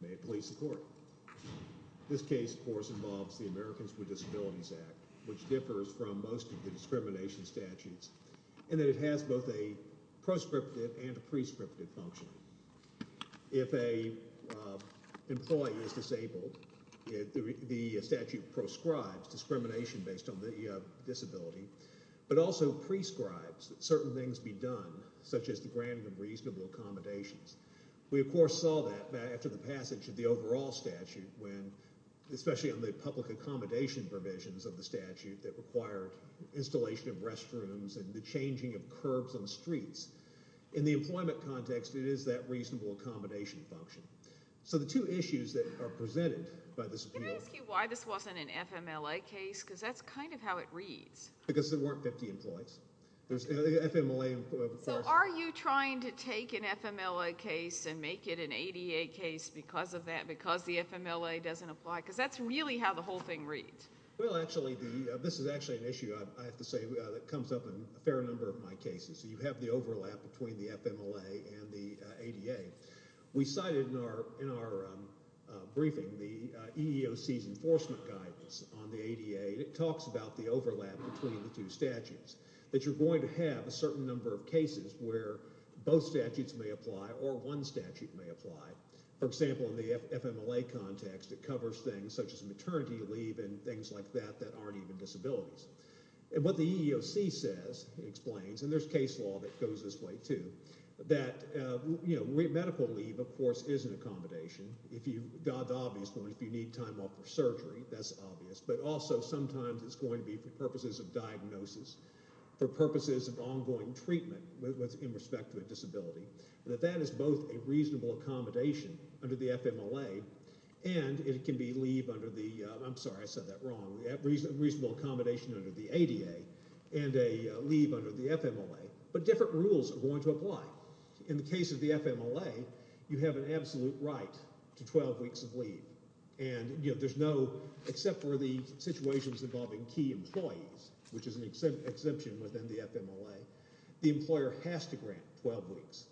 May it please the court. This case of course involves the Americans with Disabilities Act, which differs from most of the discrimination statutes in that it has both a proscriptive and a prescriptive function. If an employee is disabled, the statute proscribes discrimination based on the disability, but also prescribes that certain things be done, such as the granting of reasonable accommodations. We of course saw that after the passage of the overall statute, especially on the public accommodation provisions of the statute that required installation of restrooms and the changing of curbs on the streets. In the employment context, it is that reasonable accommodation function. So the two issues that are presented by the Supreme Court... Can I ask you why this wasn't an FMLA case? Because that's kind of how it reads. Because there weren't 50 employees. So are you trying to take an FMLA case and make it an ADA case because of that, because the FMLA doesn't apply? Because that's really how the whole thing reads. Well, actually, this is actually an issue, I have to say, that comes up in a fair number of my cases. You have the overlap between the FMLA and the ADA. We cited in our briefing the EEOC's enforcement guidance on the ADA, and it talks about the overlap between the two statutes, that you're going to have a certain number of cases where both statutes may apply or one statute may apply. For example, in the FMLA context, it covers things such as maternity leave and things like that that aren't even disabilities. And what the EEOC says, it explains, and there's case law that goes this way, too, that medical leave, of course, is an accommodation. If you... the obvious one, if you need time off for surgery, that's obvious. But also, sometimes it's going to be for purposes of diagnosis, for purposes of ongoing treatment in respect to a disability, that that is both a reasonable accommodation under the FMLA and it can be leave under the... I'm sorry, I said that wrong, a reasonable accommodation under the ADA and a leave under the FMLA. But different rules are going to apply. In the case of the FMLA, you have an absolute right to 12 weeks of leave. And there's no... except for the situations involving key employees, which is an exemption within the FMLA. The employer has to grant 12 weeks,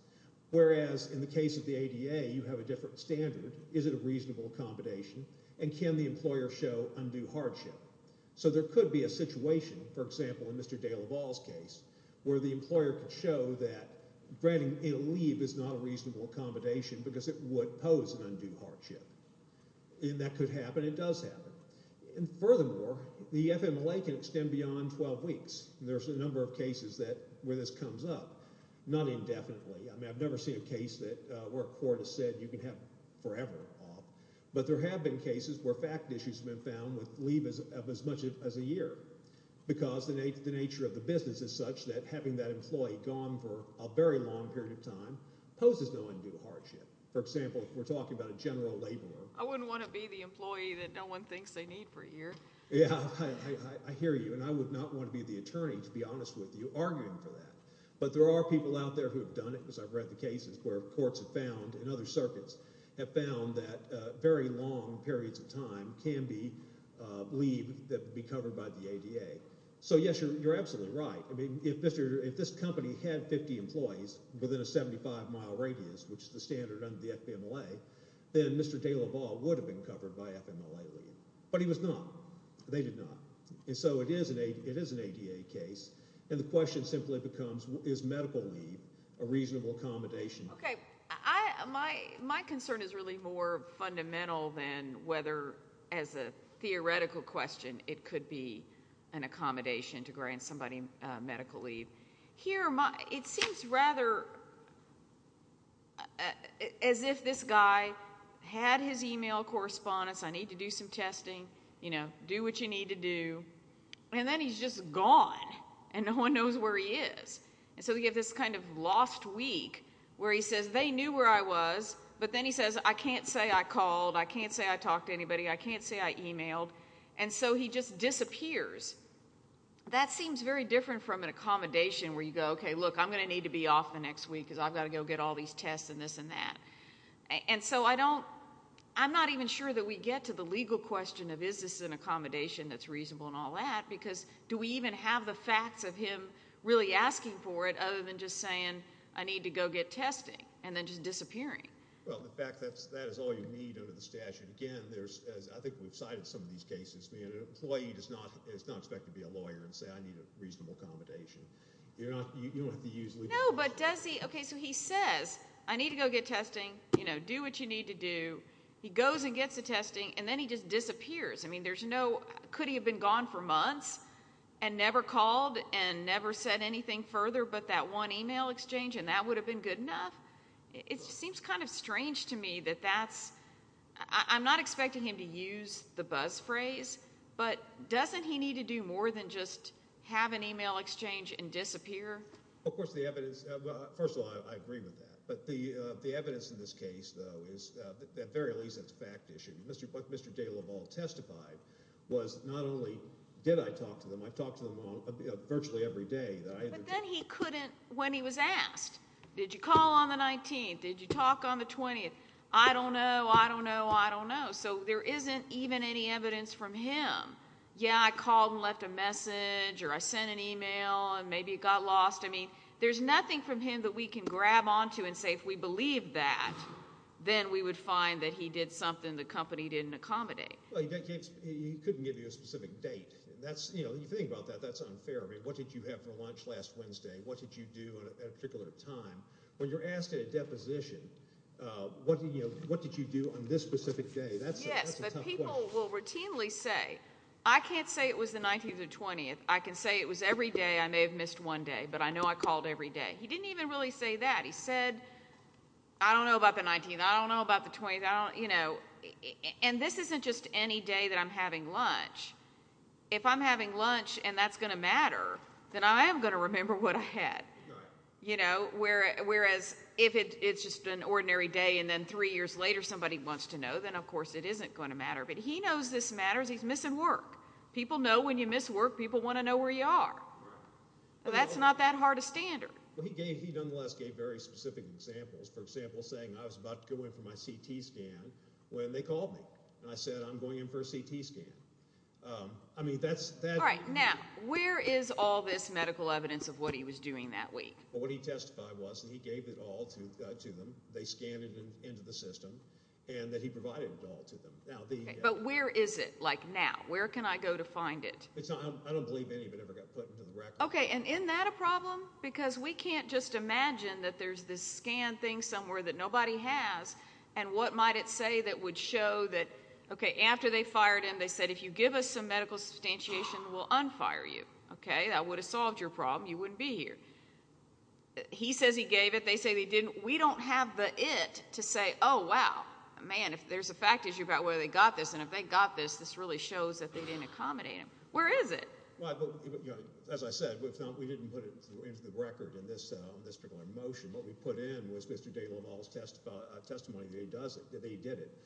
whereas in the case of the ADA, you have a different standard, is it a reasonable accommodation, and can the employer show undue hardship. So there could be a situation, for example, in Mr. De LaValle's case, where the employer could show that granting a leave is not a reasonable accommodation because it would pose an undue hardship, and that could happen, it does happen. And furthermore, the FMLA can extend beyond 12 weeks. There's a number of cases where this comes up, not indefinitely, I mean, I've never seen a case where a court has said you can have forever off. But there have been cases where fact issues have been found with leave of as much as a year, because the nature of the business is such that having that employee gone for a very long period of time poses no undue hardship. For example, if we're talking about a general laborer... I wouldn't want to be the employee that no one thinks they need for a year. Yeah, I hear you, and I would not want to be the attorney, to be honest with you, arguing for that. But there are people out there who have done it, because I've read the cases where courts have found, and other circuits have found, that very long periods of time can be leave that would be covered by the ADA. So yes, you're absolutely right. I mean, if this company had 50 employees within a 75-mile radius, which is the standard under the FMLA, then Mr. de la Valle would have been covered by FMLA leave. But he was not. They did not. And so it is an ADA case, and the question simply becomes, is medical leave a reasonable accommodation? Okay. My concern is really more fundamental than whether, as a theoretical question, it could be an accommodation to grant somebody medical leave. Here, it seems rather as if this guy had his email correspondence, I need to do some testing, you know, do what you need to do, and then he's just gone, and no one knows where he is. And so we have this kind of lost week, where he says, they knew where I was, but then he says, I can't say I called, I can't say I talked to anybody, I can't say I emailed, and so he just disappears. That seems very different from an accommodation, where you go, okay, look, I'm going to need to be off the next week, because I've got to go get all these tests and this and that. And so I don't, I'm not even sure that we get to the legal question of, is this an accommodation that's reasonable and all that, because do we even have the facts of him really asking for it, other than just saying, I need to go get testing, and then just disappearing? Well, the fact that that is all you need under the statute, again, there's, as I think we've seen in most cases, an employee does not expect to be a lawyer and say, I need a reasonable accommodation. You don't have to use legal. No, but does he, okay, so he says, I need to go get testing, you know, do what you need to do. He goes and gets the testing, and then he just disappears. I mean, there's no, could he have been gone for months, and never called, and never said anything further but that one email exchange, and that would have been good enough? It seems kind of strange to me that that's, I'm not expecting him to use the buzz phrase, but doesn't he need to do more than just have an email exchange and disappear? Of course, the evidence, first of all, I agree with that, but the evidence in this case, though, is that at the very least, it's a fact issue. What Mr. DeLaval testified was not only did I talk to them, I talked to them virtually every day. But then he couldn't, when he was asked, did you call on the 19th, did you talk on the 20th, I don't know, I don't know, I don't know, so there isn't even any evidence from him. Yeah, I called and left a message, or I sent an email, and maybe it got lost, I mean, there's nothing from him that we can grab onto and say, if we believe that, then we would find that he did something the company didn't accommodate. Well, he couldn't give you a specific date. That's, you know, you think about that, that's unfair, I mean, what did you have for lunch last Wednesday? What did you do at a particular time? When you're asked at a deposition, what did you do on this specific day? Yes, but people will routinely say, I can't say it was the 19th or 20th, I can say it was every day, I may have missed one day, but I know I called every day. He didn't even really say that, he said, I don't know about the 19th, I don't know about the 20th, I don't, you know. And this isn't just any day that I'm having lunch. If I'm having lunch and that's going to matter, then I am going to remember what I had. You know, whereas if it's just an ordinary day and then three years later somebody wants to know, then of course it isn't going to matter, but he knows this matters, he's missing work. People know when you miss work, people want to know where you are. That's not that hard a standard. Well, he gave, he nonetheless gave very specific examples, for example, saying I was about to go in for my CT scan when they called me, and I said, I'm going in for a CT scan. I mean, that's... All right, now, where is all this medical evidence of what he was doing that week? Well, what he testified was that he gave it all to them, they scanned it into the system, and that he provided it all to them. But where is it, like now? Where can I go to find it? I don't believe any of it ever got put into the record. Okay, and isn't that a problem? Because we can't just imagine that there's this scan thing somewhere that nobody has, and what might it say that would show that, okay, after they fired him, they said, if you give us some medical substantiation, we'll unfire you, okay, that would have solved your problem, you wouldn't be here. He says he gave it, they say they didn't. We don't have the it to say, oh, wow, man, if there's a fact issue about whether they got this, and if they got this, this really shows that they didn't accommodate him. Where is it? Well, as I said, we didn't put it into the record in this particular motion. What we put in was Mr. DeLaval's testimony that he did it.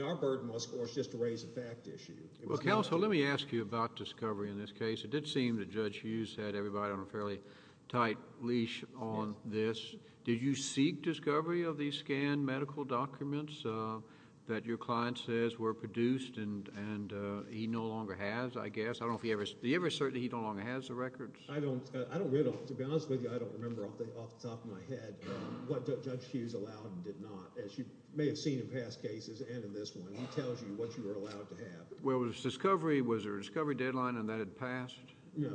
Our burden was, of course, just to raise a fact issue. Well, counsel, let me ask you about discovery in this case. It did seem that Judge Hughes had everybody on a fairly tight leash on this. Did you seek discovery of these scanned medical documents that your client says were produced and he no longer has, I guess? I don't know if he ever... Do you ever assert that he no longer has the records? I don't... I don't... To be honest with you, I don't remember off the top of my head what Judge Hughes allowed and did not. As you may have seen in past cases and in this one, he tells you what you are allowed to have. Well, was discovery... Was there a discovery deadline and that had passed? No.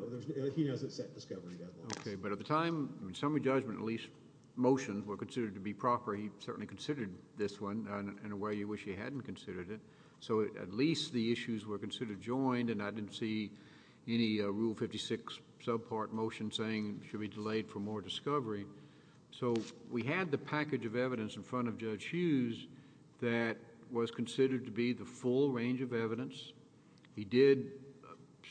He hasn't set discovery deadlines. Okay. But at the time, in summary judgment, at least, motions were considered to be proper. He certainly considered this one in a way you wish he hadn't considered it. So at least the issues were considered joined and I didn't see any Rule 56 subpart motion saying it should be delayed for more discovery. So we had the package of evidence in front of Judge Hughes that was considered to be the full range of evidence. He did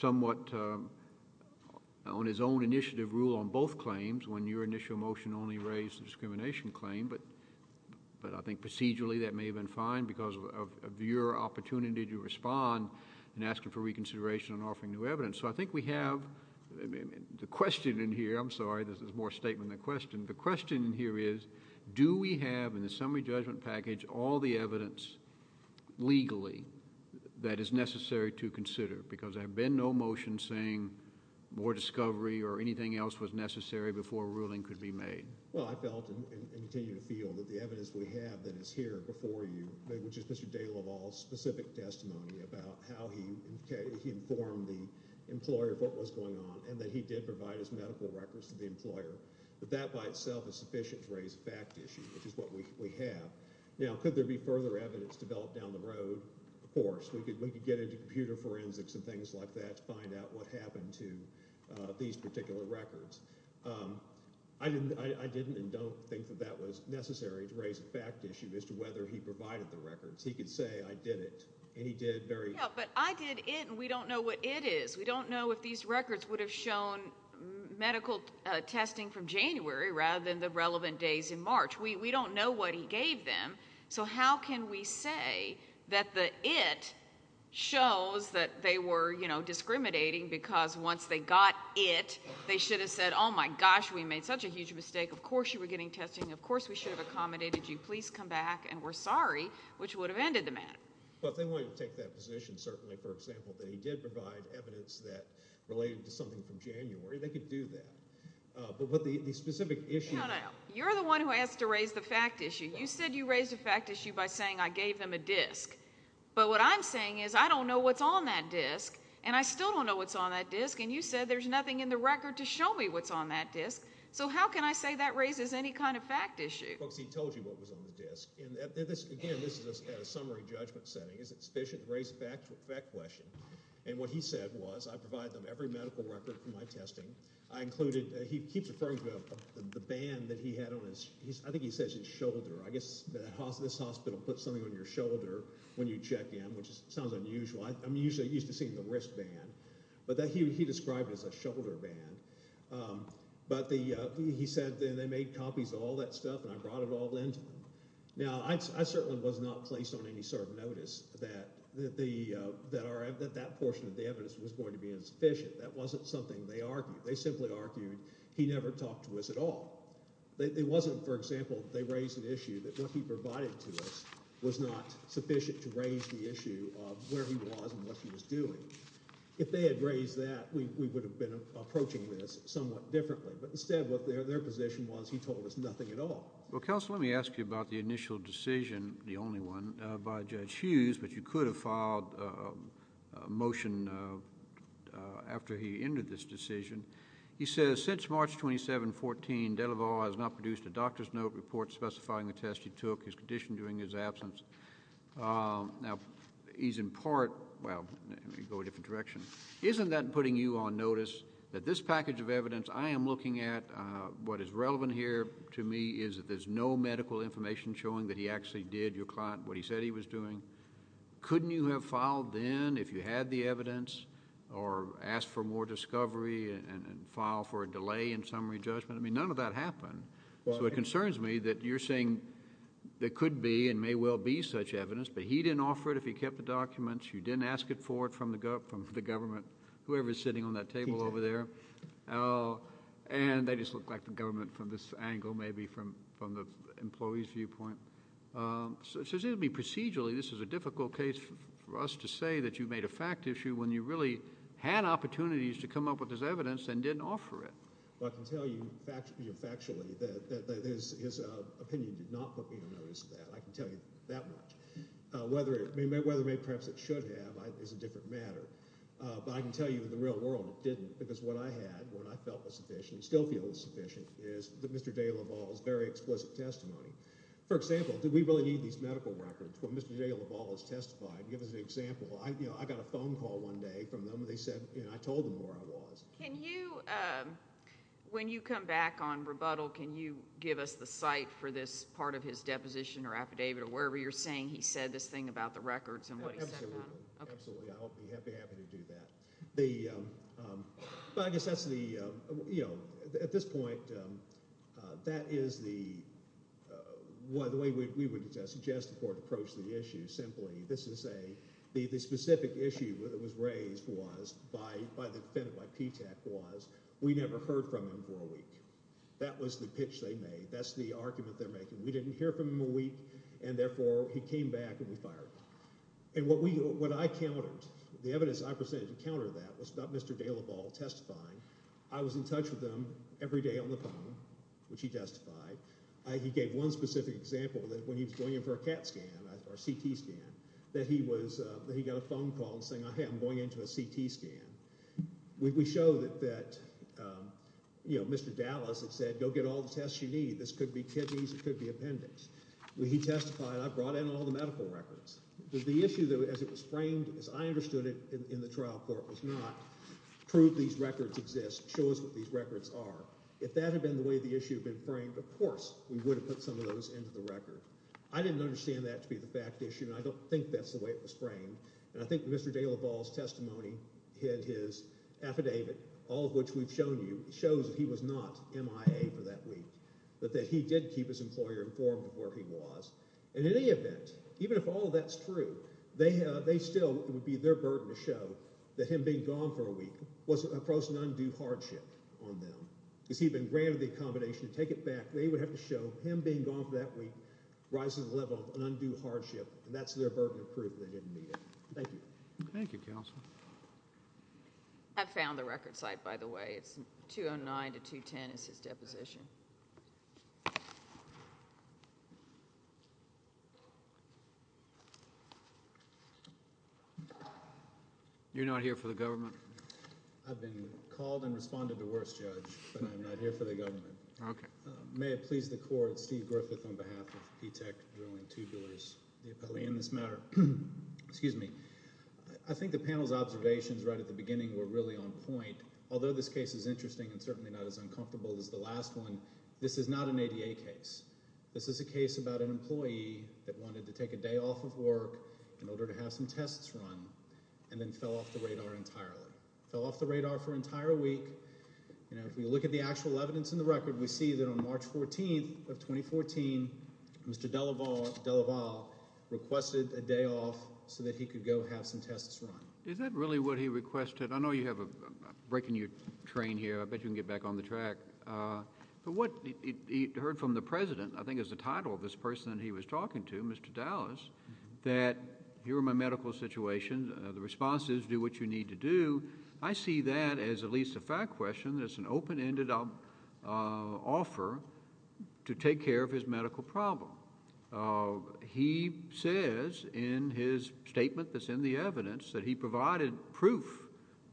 somewhat, on his own initiative, rule on both claims when your initial motion only raised the discrimination claim, but I think procedurally that may have been fine because of your opportunity to respond in asking for reconsideration and offering new evidence. So I think we have... the question in here... I'm sorry, this is more a statement than a question. The question in here is, do we have in the summary judgment package all the evidence legally that is necessary to consider? Because there had been no motion saying more discovery or anything else was necessary before a ruling could be made. Well, I felt and continue to feel that the evidence we have that is here before you... which is Mr. DeLaval's specific testimony about how he informed the employer of what was going on and that he did provide his medical records to the employer... that that by itself is sufficient to raise a fact issue, which is what we have. Now could there be further evidence developed down the road? Of course. We could get into computer forensics and things like that to find out what happened to these particular records. I didn't and don't think that that was necessary to raise a fact issue as to whether he provided the records. He could say, I did it. And he did very... Yeah, but I did it and we don't know what it is. We don't know if these records would have shown medical testing from January rather than the relevant days in March. We don't know what he gave them. So how can we say that the it shows that they were, you know, discriminating because once they got it, they should have said, oh my gosh, we made such a huge mistake. Of course you were getting testing. Of course we should have accommodated you. Please come back and we're sorry, which would have ended the matter. But they wanted to take that position certainly, for example, that he did provide evidence that related to something from January. They could do that, but with the specific issue... No, no, no. You're the one who asked to raise the fact issue. You said you raised a fact issue by saying I gave them a disk. But what I'm saying is I don't know what's on that disk and I still don't know what's on that disk and you said there's nothing in the record to show me what's on that disk. So how can I say that raises any kind of fact issue? Because he told you what was on the disk and this, again, this is a summary judgment setting. Is it sufficient to raise a fact question? And what he said was I provide them every medical record for my testing. I included, he keeps referring to the band that he had on his, I think he says his shoulder. I guess this hospital puts something on your shoulder when you check in, which sounds unusual. I'm usually used to seeing the wristband, but he described it as a shoulder band. But he said they made copies of all that stuff and I brought it all into them. Now, I certainly was not placed on any sort of notice that that portion of the evidence was going to be insufficient. That wasn't something they argued. They simply argued he never talked to us at all. It wasn't, for example, they raised an issue that what he provided to us was not sufficient to raise the issue of where he was and what he was doing. If they had raised that, we would have been approaching this somewhat differently. But instead, what their position was, he told us nothing at all. Well, counsel, let me ask you about the initial decision, the only one, by Judge Hughes, but you could have filed a motion after he ended this decision. He says since March 27, 14, Delaval has not produced a doctor's note report specifying the test he took, his condition during his absence. Now, he's in part, well, let me go a different direction. Isn't that putting you on notice that this package of evidence I am looking at, what is relevant here to me is that there's no medical information showing that he actually did, your client, what he said he was doing? Couldn't you have filed then if you had the evidence or asked for more discovery and filed for a delay in summary judgment? I mean, none of that happened. So it concerns me that you're saying there could be and may well be such evidence, but he didn't offer it if he kept the documents. You didn't ask it for it from the government, whoever is sitting on that table over there. And they just look like the government from this angle, maybe from the employee's viewpoint. So it seems to me procedurally, this is a difficult case for us to say that you made a fact issue when you really had opportunities to come up with this evidence and didn't offer it. But I can tell you factually that his opinion did not put me on notice of that. I can tell you that much. Whether it may, perhaps it should have is a different matter. But I can tell you in the real world it didn't because what I had, what I felt was sufficient, still feel is sufficient, is that Mr. DeLaval's very explicit testimony. For example, do we really need these medical records when Mr. DeLaval has testified? Give us an example. You know, I got a phone call one day from them and they said, you know, I told them where I was. Can you, when you come back on rebuttal, can you give us the site for this part of his deposition or affidavit or wherever you're saying he said this thing about the records and what he said about them? Absolutely. I'll be happy to do that. The, but I guess that's the, you know, at this point that is the, the way we would suggest the court approach the issue simply. This is a, the specific issue that was raised was by, by the defendant, by PTAC was, we never heard from him for a week. That was the pitch they made. That's the argument they're making. We didn't hear from him a week and therefore he came back and we fired him. And what we, what I countered, the evidence I presented to counter that was about Mr. DeLaval testifying. I was in touch with him every day on the phone, which he testified. He gave one specific example that when he was going in for a CAT scan or a CT scan that he was, that he got a phone call saying, hey, I'm going into a CT scan. We, we showed that, that, you know, Mr. Dallas had said, go get all the tests you need. This could be kidneys, it could be appendix. He testified, I brought in all the medical records. The issue, as it was framed, as I understood it in the trial court was not, prove these records exist, show us what these records are. If that had been the way the issue had been framed, of course we would have put some of those into the record. I didn't understand that to be the fact issue and I don't think that's the way it was framed. And I think Mr. DeLaval's testimony hid his affidavit, all of which we've shown you, shows that he was not MIA for that week. But that he did keep his employer informed of where he was. In any event, even if all of that's true, they have, they still, it would be their burden to show that him being gone for a week was across an undue hardship on them. Because he'd been granted the accommodation to take it back, they would have to show him being gone for that week rises to the level of an undue hardship. And that's their burden of proof that he didn't need it. Thank you. Thank you, counsel. I found the record site, by the way. It's 209 to 210 is his deposition. You're not here for the government? I've been called and responded to worse, Judge. But I'm not here for the government. Okay. May it please the court, Steve Griffith on behalf of P-TECH Drilling Tubulars, the appellee in this matter. Excuse me. I think the panel's observations right at the beginning were really on point. Although this case is interesting and certainly not as uncomfortable as the last one, this is not an ADA case. This is a case about an employee that wanted to take a day off of work in order to have some tests run, and then fell off the radar entirely. Fell off the radar for an entire week. If we look at the actual evidence in the record, we see that on March 14th of 2014, Mr. Delaval requested a day off so that he could go have some tests run. Is that really what he requested? I know you have a break in your train here. I bet you can get back on the track. But what he heard from the president, I think is the title of this person that he was talking to, Mr. Dallas, that here are my medical situations. The response is, do what you need to do. I see that as at least a fact question. It's an open-ended offer to take care of his medical problem. He says in his statement that's in the evidence that he provided proof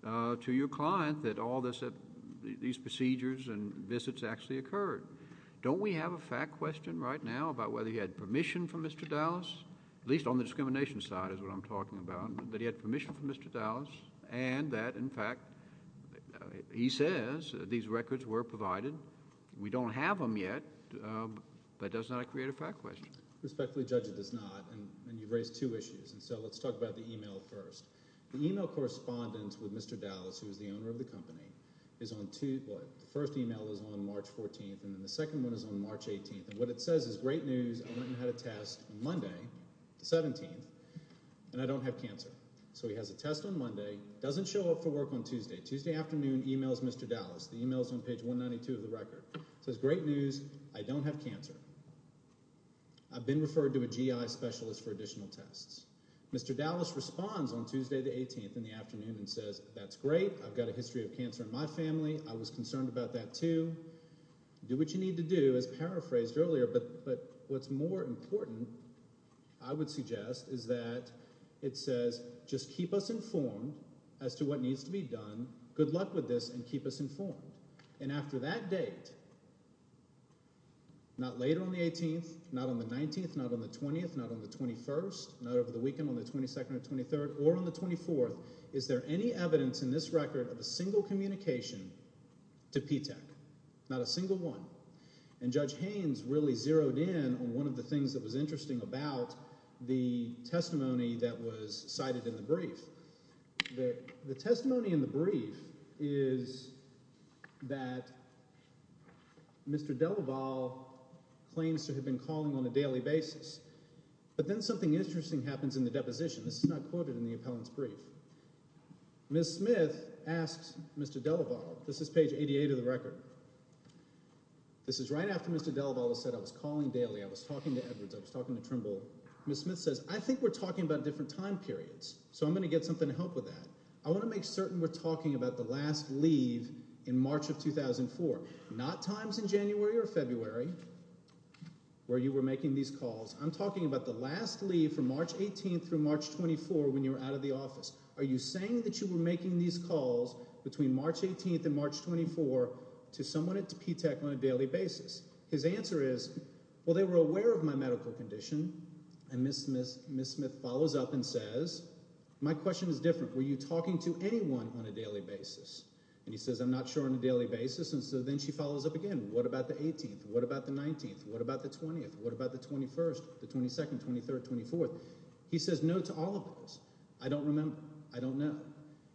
to your client that all these procedures and visits actually occurred. Don't we have a fact question right now about whether he had permission from Mr. Dallas, at least on the discrimination side is what I'm talking about, that he had permission from Mr. Dallas, and that, in fact, he says these records were provided. We don't have them yet, but that does not create a fact question. Respectfully, Judge, it does not, and you've raised two issues. So let's talk about the email first. The email correspondence with Mr. Dallas, who is the owner of the company, is on, what, the first email is on March 14th, and then the second one is on March 18th. And what it says is, great news, I went and had a test on Monday, the 17th, and I don't have cancer. So he has a test on Monday, doesn't show up for work on Tuesday. Tuesday afternoon, emails Mr. Dallas. The email's on page 192 of the record. Says, great news, I don't have cancer. I've been referred to a GI specialist for additional tests. Mr. Dallas responds on Tuesday the 18th in the afternoon and says, that's great. I've got a history of cancer in my family. I was concerned about that too. Do what you need to do, as paraphrased earlier, but what's more important, I would suggest, is that it says, just keep us informed as to what needs to be done. Good luck with this and keep us informed. And after that date, not later on the 18th, not on the 19th, not on the 20th, not on the 21st, not over the weekend on the 22nd or 23rd, or on the 24th. Is there any evidence in this record of a single communication to P-TECH? Not a single one. And Judge Haynes really zeroed in on one of the things that was interesting about the testimony that was cited in the brief. The testimony in the brief is that Mr. Delavalle was called on a daily basis. But then something interesting happens in the deposition. This is not quoted in the appellant's brief. Ms. Smith asks Mr. Delavalle, this is page 88 of the record. This is right after Mr. Delavalle said, I was calling daily, I was talking to Edwards, I was talking to Trimble. Ms. Smith says, I think we're talking about different time periods. So I'm gonna get something to help with that. I wanna make certain we're talking about the last leave in March of 2004. Not times in January or February where you were making these calls. I'm talking about the last leave from March 18th through March 24th when you were out of the office. Are you saying that you were making these calls between March 18th and March 24th to someone at P-TECH on a daily basis? His answer is, well, they were aware of my medical condition. And Ms. Smith follows up and says, my question is different. Were you talking to anyone on a daily basis? And he says, I'm not sure on a daily basis. And so then she follows up again, what about the 18th? What about the 19th? What about the 20th? What about the 21st, the 22nd, 23rd, 24th? He says no to all of those. I don't remember. I don't know.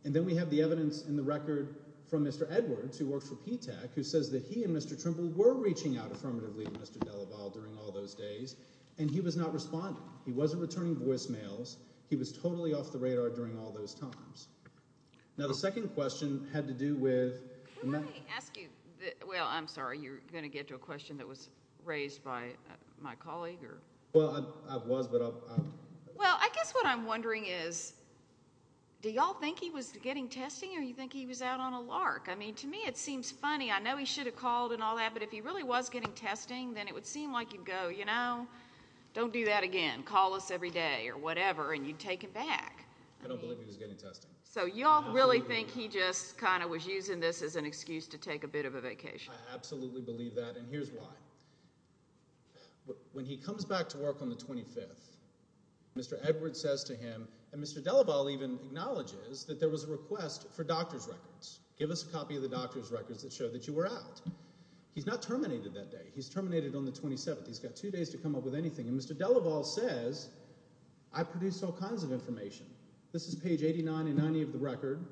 And then we have the evidence in the record from Mr. Edwards, who works for P-TECH, who says that he and Mr. Trimble were reaching out affirmatively to Mr. Delavalle during all those days, and he was not responding. He wasn't returning voicemails. He was totally off the radar during all those times. Now the second question had to do with- Can I ask you, well, I'm sorry, you're going to get to a question that was raised by my colleague, or? Well, I was, but I'll- Well, I guess what I'm wondering is, do y'all think he was getting testing, or you think he was out on a lark? I mean, to me, it seems funny. I know he should have called and all that, but if he really was getting testing, then it would seem like you'd go, you know, don't do that again. Call us every day, or whatever, and you'd take it back. I don't believe he was getting testing. So y'all really think he just kind of was using this as an excuse to take a bit of a vacation? I absolutely believe that, and here's why. When he comes back to work on the 25th, Mr. Edwards says to him, and Mr. Delavalle even acknowledges that there was a request for doctor's records. Give us a copy of the doctor's records that show that you were out. He's not terminated that day. He's terminated on the 27th. He's got two days to come up with anything. And Mr. Delavalle says, I produce all kinds of information. This is page 89 and 90 of the record.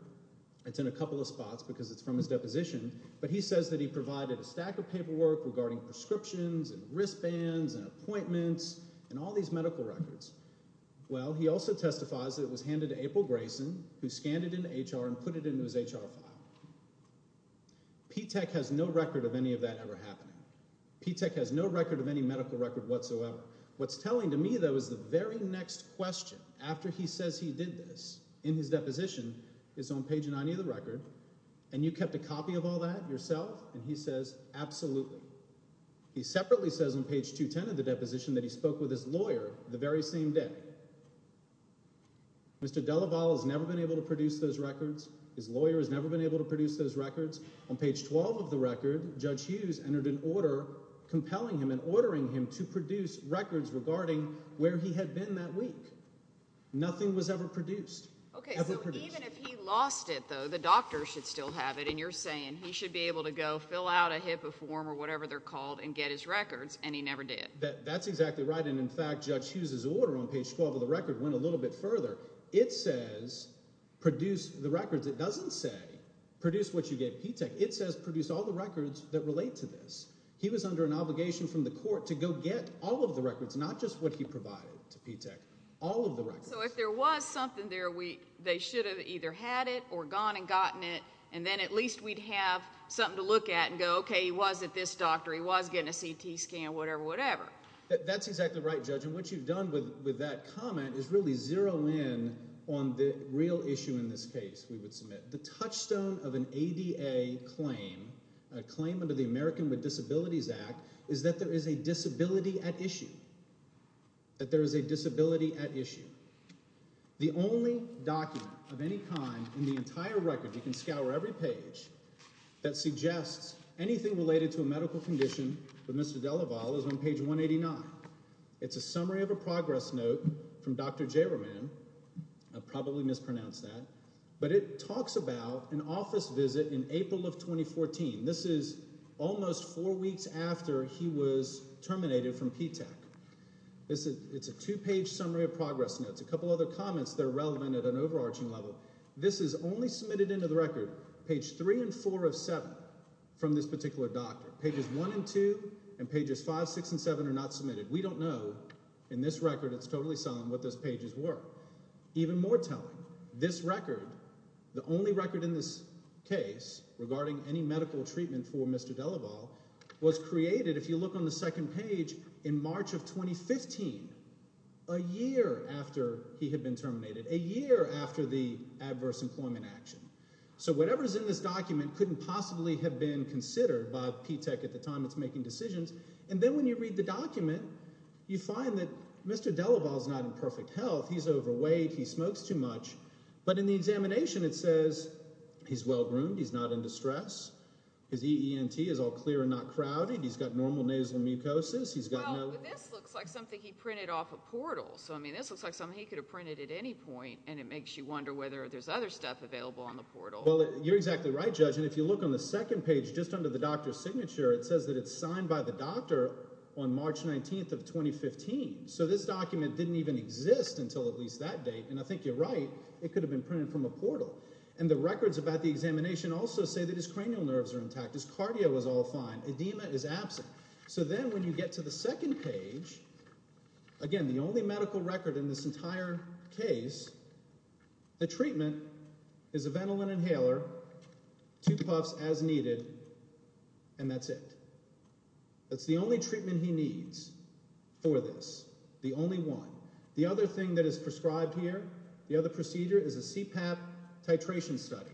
It's in a couple of spots because it's from his deposition. But he says that he provided a stack of paperwork regarding prescriptions, and wristbands, and appointments, and all these medical records. Well, he also testifies that it was handed to April Grayson, who scanned it into HR and put it into his HR file. P-TECH has no record of any of that ever happening. P-TECH has no record of any medical record whatsoever. What's telling to me though is the very next question after he says he did this in his deposition is on page 90 of the record. And you kept a copy of all that yourself? And he says, absolutely. He separately says on page 210 of the deposition that he spoke with his lawyer the very same day. Mr. Delavalle has never been able to produce those records. His lawyer has never been able to produce those records. On page 12 of the record, Judge Hughes entered an order compelling him and his lawyers to produce records regarding where he had been that week. Nothing was ever produced. Okay, so even if he lost it though, the doctors should still have it. And you're saying he should be able to go fill out a HIPAA form or whatever they're called and get his records, and he never did. That's exactly right. And in fact, Judge Hughes' order on page 12 of the record went a little bit further. It says, produce the records. It doesn't say, produce what you gave P-TECH. It says, produce all the records that relate to this. He was under an obligation from the court to go get all of the records, not just what he provided to P-TECH, all of the records. So if there was something there, they should have either had it or gone and gotten it. And then at least we'd have something to look at and go, okay, he was at this doctor, he was getting a CT scan, whatever, whatever. That's exactly right, Judge. And what you've done with that comment is really zero in on the real issue in this case, we would submit. The touchstone of an ADA claim, a claim under the American with Disabilities Act, is that there is a disability at issue, that there is a disability at issue. The only document of any kind in the entire record, you can scour every page, that suggests anything related to a medical condition with Mr. Delaval is on page 189. It's a summary of a progress note from Dr. Javerman, I probably mispronounced that. But it talks about an office visit in April of 2014. This is almost four weeks after he was terminated from P-TECH. It's a two-page summary of progress notes, a couple other comments that are relevant at an overarching level. This is only submitted into the record, page three and four of seven from this particular doctor. Pages one and two, and pages five, six, and seven are not submitted. We don't know, in this record, it's totally silent what those pages were. Even more telling, this record, the only record in this case, regarding any medical treatment for Mr. Delaval, was created, if you look on the second page, in March of 2015, a year after he had been terminated, a year after the adverse employment action. So whatever's in this document couldn't possibly have been considered by P-TECH at the time it's making decisions. And then when you read the document, you find that Mr. Delaval's not in perfect health, he's overweight, he smokes too much. But in the examination, it says he's well-groomed, he's not in distress. His EENT is all clear and not crowded. He's got normal nasal mucosis, he's got no- Well, but this looks like something he printed off a portal. So, I mean, this looks like something he could have printed at any point, and it makes you wonder whether there's other stuff available on the portal. Well, you're exactly right, Judge. And if you look on the second page, just under the doctor's signature, it says that it's signed by the doctor on March 19th of 2015. So this document didn't even exist until at least that date, and I think you're right, it could have been printed from a portal. And the records about the examination also say that his cranial nerves are intact, his cardio is all fine, edema is absent. So then when you get to the second page, again, the only medical record in this entire case, the treatment is a Ventolin inhaler, two puffs as needed, and that's it. That's the only treatment he needs for this, the only one. The other thing that is prescribed here, the other procedure is a CPAP titration study.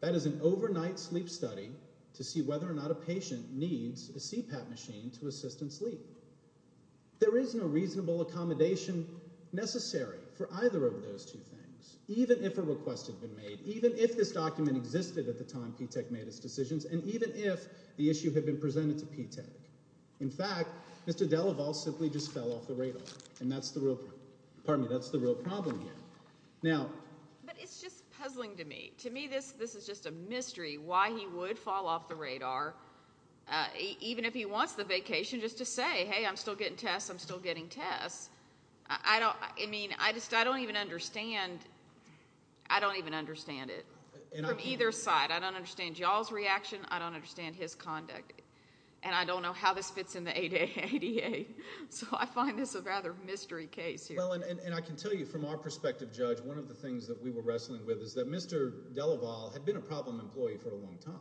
That is an overnight sleep study to see whether or not a patient needs a CPAP machine to assist in sleep. There is no reasonable accommodation necessary for either of those two things, even if a request had been made, even if this document existed at the time P-TECH made its decisions, and even if the issue had been presented to P-TECH. In fact, Mr. DeLaval simply just fell off the radar, and that's the real problem here. Now- But it's just puzzling to me. To me, this is just a mystery, why he would fall off the radar, even if he wants the vacation just to say, hey, I'm still getting tests, I'm still getting tests. I don't even understand it, from either side. I don't understand y'all's reaction, I don't understand his conduct, and I don't know how this fits in the ADA. So I find this a rather mystery case here. Well, and I can tell you, from our perspective, Judge, one of the things that we were wrestling with is that Mr. DeLaval had been a problem employee for a long time.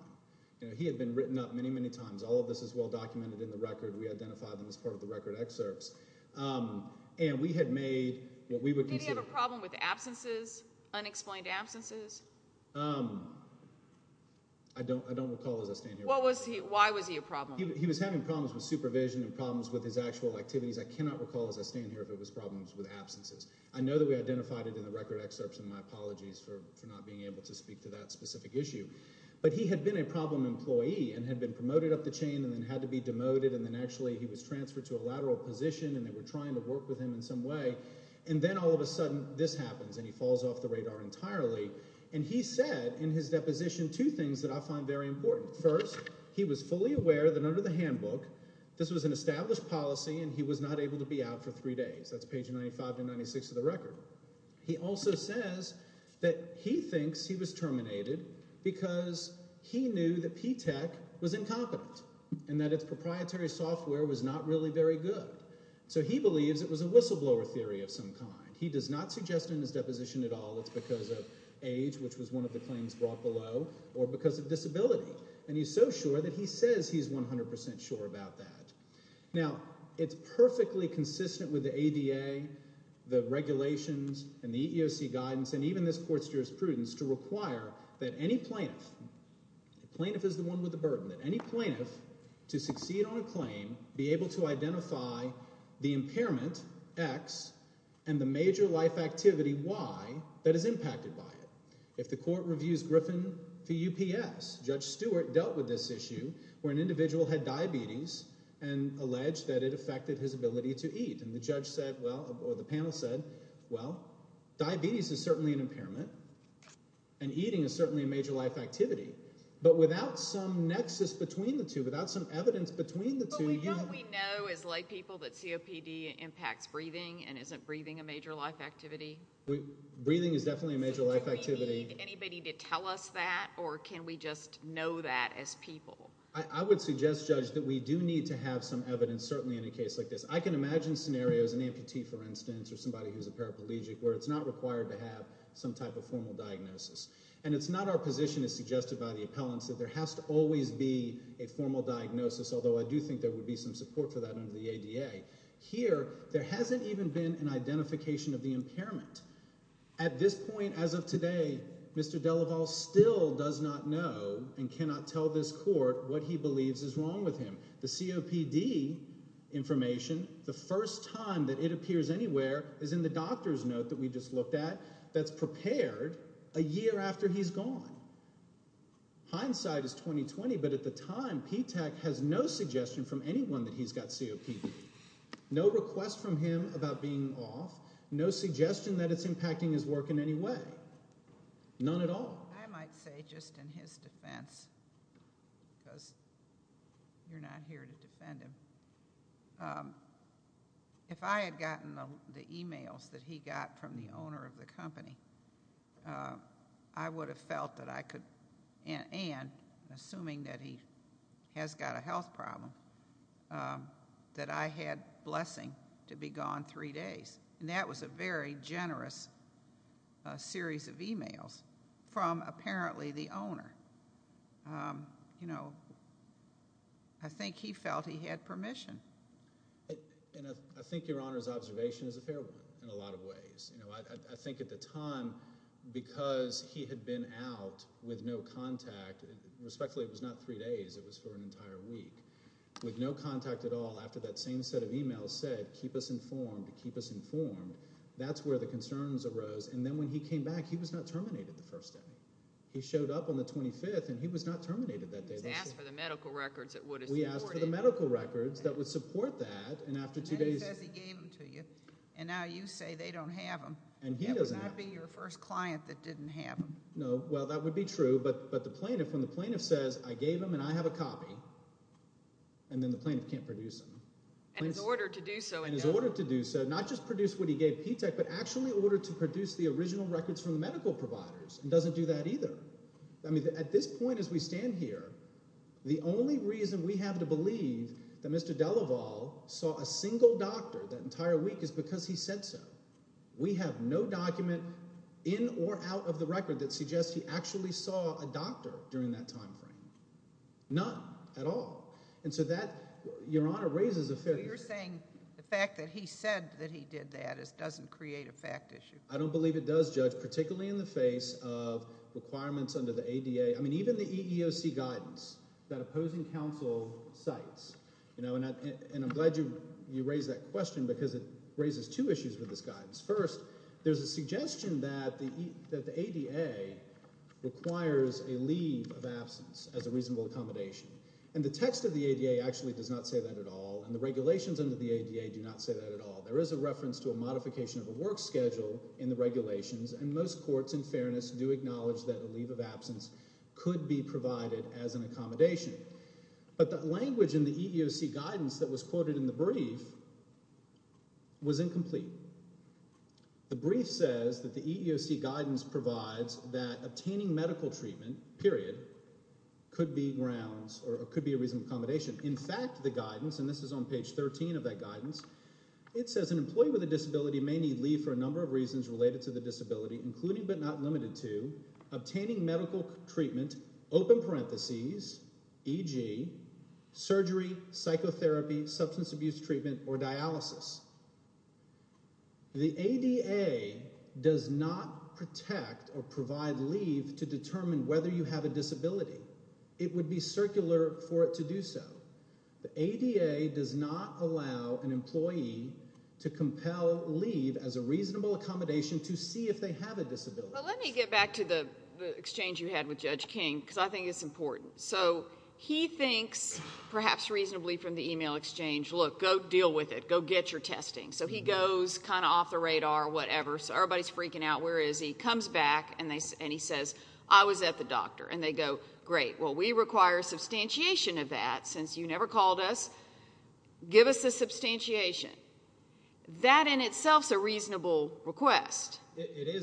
He had been written up many, many times. All of this is well documented in the record. We identified them as part of the record excerpts, and we had made what we would consider- Did he have a problem with absences, unexplained absences? I don't recall, as I stand here- Why was he a problem? He was having problems with supervision and problems with his actual activities. I cannot recall, as I stand here, if it was problems with absences. I know that we identified it in the record excerpts, and my apologies for not being able to speak to that specific issue. But he had been a problem employee, and had been promoted up the chain, and then had to be demoted. And then actually, he was transferred to a lateral position, and they were trying to work with him in some way. And then all of a sudden, this happens, and he falls off the radar entirely. And he said, in his deposition, two things that I find very important. First, he was fully aware that under the handbook, this was an established policy, and he was not able to be out for three days. That's page 95 to 96 of the record. He also says that he thinks he was terminated, because he knew that P-TECH was incompetent, and that its proprietary software was not really very good. So he believes it was a whistleblower theory of some kind. He does not suggest it in his deposition at all. It's because of age, which was one of the claims brought below, or because of disability. And he's so sure that he says he's 100% sure about that. Now, it's perfectly consistent with the ADA, the regulations, and the EEOC guidance, and even this court's jurisprudence, to require that any plaintiff, plaintiff is the one with the burden, that any plaintiff to succeed on a claim, be able to identify the impairment, X, and the major life activity, Y, that is impacted by it. If the court reviews Griffin to UPS, Judge Stewart dealt with this issue, where an individual had diabetes, and alleged that it affected his ability to eat. And the judge said, well, or the panel said, well, diabetes is certainly an impairment, and eating is certainly a major life activity. But without some nexus between the two, without some evidence between the two- What we know is, lay people, that COPD impacts breathing, and isn't breathing a major life activity? Breathing is definitely a major life activity. Do we need anybody to tell us that, or can we just know that as people? I would suggest, Judge, that we do need to have some evidence, certainly in a case like this. I can imagine scenarios, an amputee, for instance, or somebody who's a paraplegic, where it's not required to have some type of formal diagnosis. And it's not our position, as suggested by the appellants, that there has to always be a formal diagnosis. Although, I do think there would be some support for that under the ADA. Here, there hasn't even been an identification of the impairment. At this point, as of today, Mr. Delaval still does not know, and cannot tell this court, what he believes is wrong with him. The COPD information, the first time that it appears anywhere, is in the doctor's note that we just looked at, that's prepared a year after he's gone. Hindsight is 20-20, but at the time, P-TECH has no suggestion from anyone that he's got COPD. No request from him about being off, no suggestion that it's impacting his work in any way. None at all. I might say, just in his defense, because you're not here to defend him, if I had gotten the emails that he got from the owner of the company, I would have felt that I could, and assuming that he has got a health problem, that I had blessing to be gone three days. And that was a very generous series of emails from, apparently, the owner. I think he felt he had permission. And I think your Honor's observation is a fair one, in a lot of ways. I think at the time, because he had been out with no contact, respectfully, it was not three days, it was for an entire week, with no contact at all, after that same set of emails said, keep us informed, keep us informed, that's where the concerns arose. And then when he came back, he was not terminated the first day. He showed up on the 25th, and he was not terminated that day. He's asked for the medical records that would have supported him. We asked for the medical records that would support that, and after two days- And then he says he gave them to you. And now you say they don't have them. And he doesn't have them. That would not be your first client that didn't have them. No, well, that would be true, but the plaintiff, when the plaintiff says, I gave them and I have a copy, and then the plaintiff can't produce them. And in order to do so- And in order to do so, not just produce what he gave P-TECH, but actually in order to produce the original records from the medical providers, and doesn't do that either. I mean, at this point, as we stand here, the only reason we have to believe that Mr. Delaval saw a single doctor that entire week is because he said so. We have no document in or out of the record that suggests he actually saw a doctor during that time frame, none at all. And so that, Your Honor, raises a fair- But you're saying the fact that he said that he did that doesn't create a fact issue. I don't believe it does, Judge, particularly in the face of requirements under the ADA. I mean, even the EEOC guidance that opposing counsel cites, and I'm glad you raised that question because it raises two issues with this guidance. First, there's a suggestion that the ADA requires a leave of absence as a reasonable accommodation. And the text of the ADA actually does not say that at all, and the regulations under the ADA do not say that at all. There is a reference to a modification of a work schedule in the regulations, and most courts, in fairness, do acknowledge that a leave of absence could be provided as an accommodation. But the language in the EEOC guidance that was quoted in the brief was incomplete. The brief says that the EEOC guidance provides that obtaining medical treatment, period, could be grounds or could be a reasonable accommodation. In fact, the guidance, and this is on page 13 of that guidance, it says an employee with a disability may need leave for a number of reasons related to the disability, including but not limited to obtaining medical treatment, open parentheses, e.g., surgery, psychotherapy, substance abuse treatment, or dialysis. The ADA does not protect or provide leave to determine whether you have a disability. It would be circular for it to do so. The ADA does not allow an employee to compel leave as a reasonable accommodation to see if they have a disability. Well, let me get back to the exchange you had with Judge King, because I think it's important. So he thinks, perhaps reasonably from the email exchange, look, go deal with it, go get your testing. So he goes kind of off the radar or whatever, so everybody's freaking out, where is he, comes back and he says, I was at the doctor. And they go, great, well, we require substantiation of that since you never called us, give us a substantiation. That in itself is a reasonable request.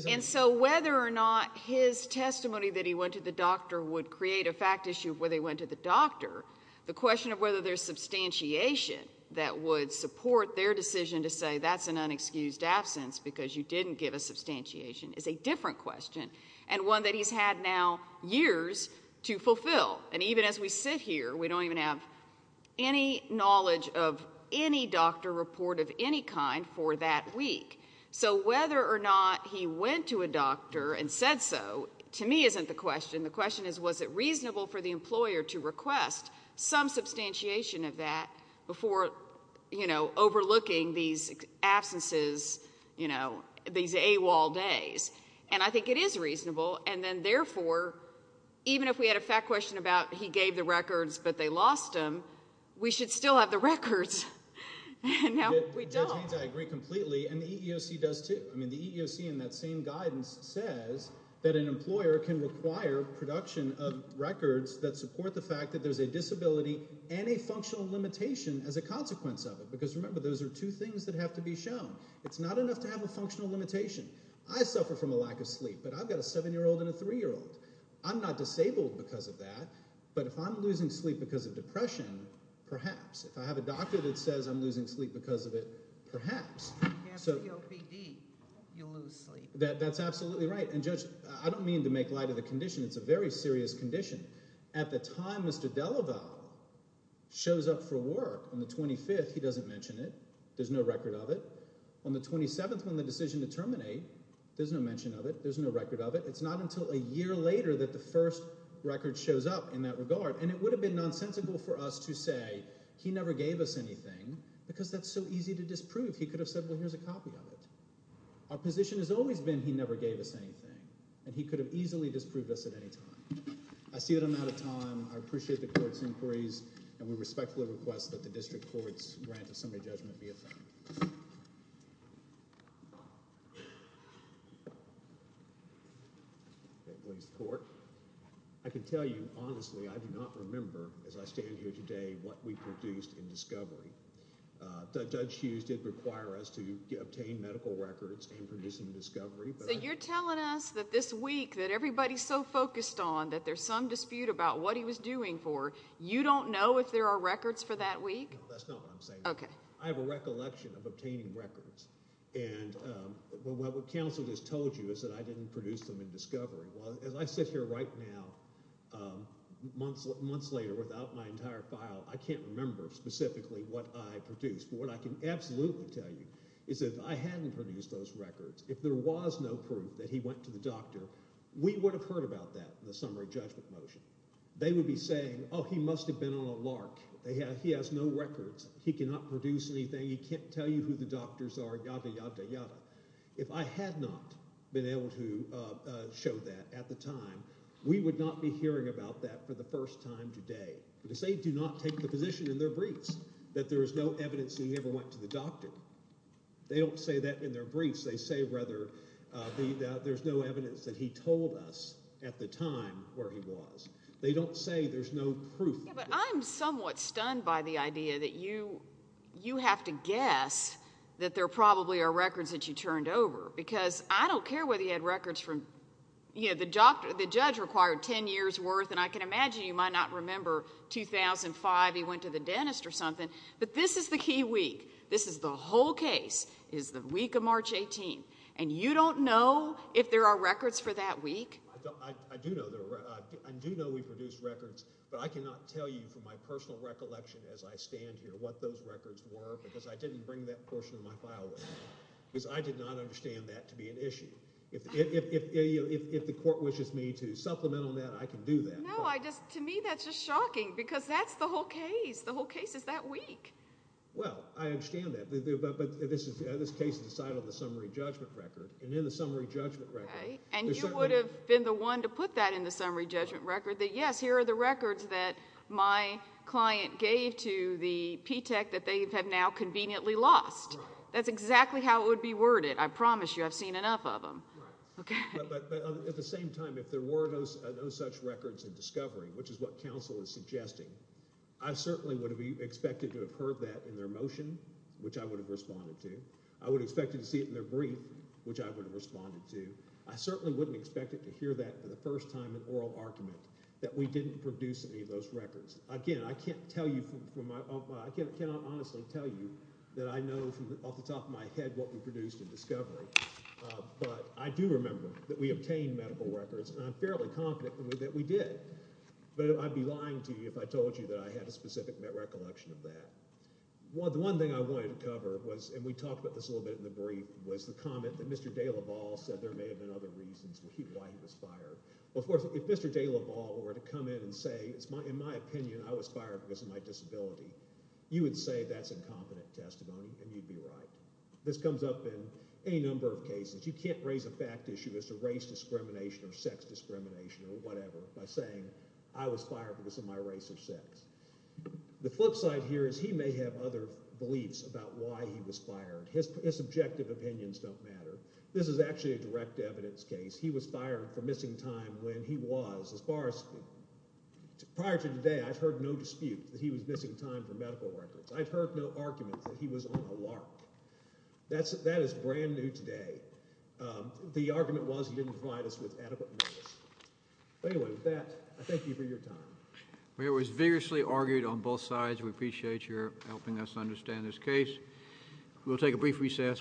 And so whether or not his testimony that he went to the doctor would create a fact issue of whether he went to the doctor, the question of whether there's substantiation that would support their decision to say that's an unexcused absence because you didn't give a substantiation is a different question, and one that he's had now years to fulfill. And even as we sit here, we don't even have any knowledge of any doctor report of any kind for that week. So whether or not he went to a doctor and said so, to me, isn't the question. The question is, was it reasonable for the employer to request some substantiation of that before, you know, overlooking these absences, you know, these AWOL days? And I think it is reasonable, and then therefore, even if we had a fact question about he gave the records, but they lost him, we should still have the records, and now we don't. I agree completely, and the EEOC does too. I mean, the EEOC in that same guidance says that an employer can require production of records that support the fact that there's a disability and a functional limitation as a consequence of it. Because remember, those are two things that have to be shown. It's not enough to have a functional limitation. I suffer from a lack of sleep, but I've got a 7-year-old and a 3-year-old. I'm not disabled because of that, but if I'm losing sleep because of depression, perhaps. If I have a doctor that says I'm losing sleep because of it, perhaps. If you have COPD, you'll lose sleep. That's absolutely right, and Judge, I don't mean to make light of the condition. It's a very serious condition. At the time Mr. Delaval shows up for work on the 25th, he doesn't mention it. There's no record of it. On the 27th, when the decision to terminate, there's no mention of it. There's no record of it. It's not until a year later that the first record shows up in that regard, and it would have been nonsensical for us to say he never gave us anything because that's so easy to disprove. He could have said, well, here's a copy of it. Our position has always been he never gave us anything, and he could have easily disproved us at any time. I see that I'm out of time. I appreciate the court's inquiries, and we respectfully request that the district court's grant of summary judgment be effected. Please, court. I can tell you honestly, I do not remember, as I stand here today, what we produced in discovery. Judge Hughes did require us to obtain medical records in producing discovery. So you're telling us that this week that everybody's so focused on, that there's some dispute about what he was doing for, you don't know if there are records for that week? That's not what I'm saying. I have a recollection of obtaining records. And what counsel just told you is that I didn't produce them in discovery. As I sit here right now, months later, without my entire file, I can't remember specifically what I produced. But what I can absolutely tell you is that if I hadn't produced those records, if there was no proof that he went to the doctor, we would have heard about that, the summary judgment motion. They would be saying, oh, he must have been on a lark. He has no records. He cannot produce anything. He can't tell you who the doctors are, yada, yada, yada. If I had not been able to show that at the time, we would not be hearing about that for the first time today. Because they do not take the physician in their briefs that there is no evidence that he ever went to the doctor. They don't say that in their briefs. They say, rather, that there's no evidence that he told us at the time where he was. They don't say there's no proof. But I'm somewhat stunned by the idea that you have to guess that there probably are records that you turned over. Because I don't care whether he had records from, you know, the judge required ten years' worth. And I can imagine you might not remember 2005 he went to the dentist or something. But this is the key week. This is the whole case is the week of March 18. And you don't know if there are records for that week? I do know we produced records. But I cannot tell you from my personal recollection as I stand here what those are, because I did not understand that to be an issue. If the court wishes me to supplement on that, I can do that. No, I just, to me that's just shocking. Because that's the whole case. The whole case is that week. Well, I understand that. But this case is decided on the summary judgment record. And in the summary judgment record. And you would have been the one to put that in the summary judgment record, that yes, here are the records that my client gave to the P-TECH that they have now conveniently lost. That's exactly how it would be worded. I promise you I've seen enough of them. Okay. But at the same time, if there were no such records in discovery, which is what counsel is suggesting, I certainly would have expected to have heard that in their motion, which I would have responded to. I would have expected to see it in their brief, which I would have responded to. I certainly wouldn't have expected to hear that for the first time in oral argument that we didn't produce any of those records. Again, I can't tell you from my, I cannot honestly tell you that I know from off the top of my head what we produced in discovery. But I do remember that we obtained medical records. And I'm fairly confident that we did. But I'd be lying to you if I told you that I had a specific recollection of that. The one thing I wanted to cover was, and we talked about this a little bit in the brief, was the comment that Mr. de la Ball said there may have been other reasons why he was fired. Well, of course, if Mr. de la Ball were to come in and say, in my opinion, I was fired because of my disability, you would say that's incompetent testimony, and you'd be right. This comes up in any number of cases. You can't raise a fact issue as to race discrimination or sex discrimination or whatever by saying, I was fired because of my race or sex. The flip side here is he may have other beliefs about why he was fired. His subjective opinions don't matter. This is actually a direct evidence case. He was fired for missing time when he was, as far as, prior to today, I've heard no dispute that he was missing time for medical records. I've heard no argument that he was on a lark. That is brand new today. The argument was he didn't provide us with adequate notice. But anyway, with that, I thank you for your time. It was vigorously argued on both sides. We appreciate your helping us understand this case. We'll take a brief recess.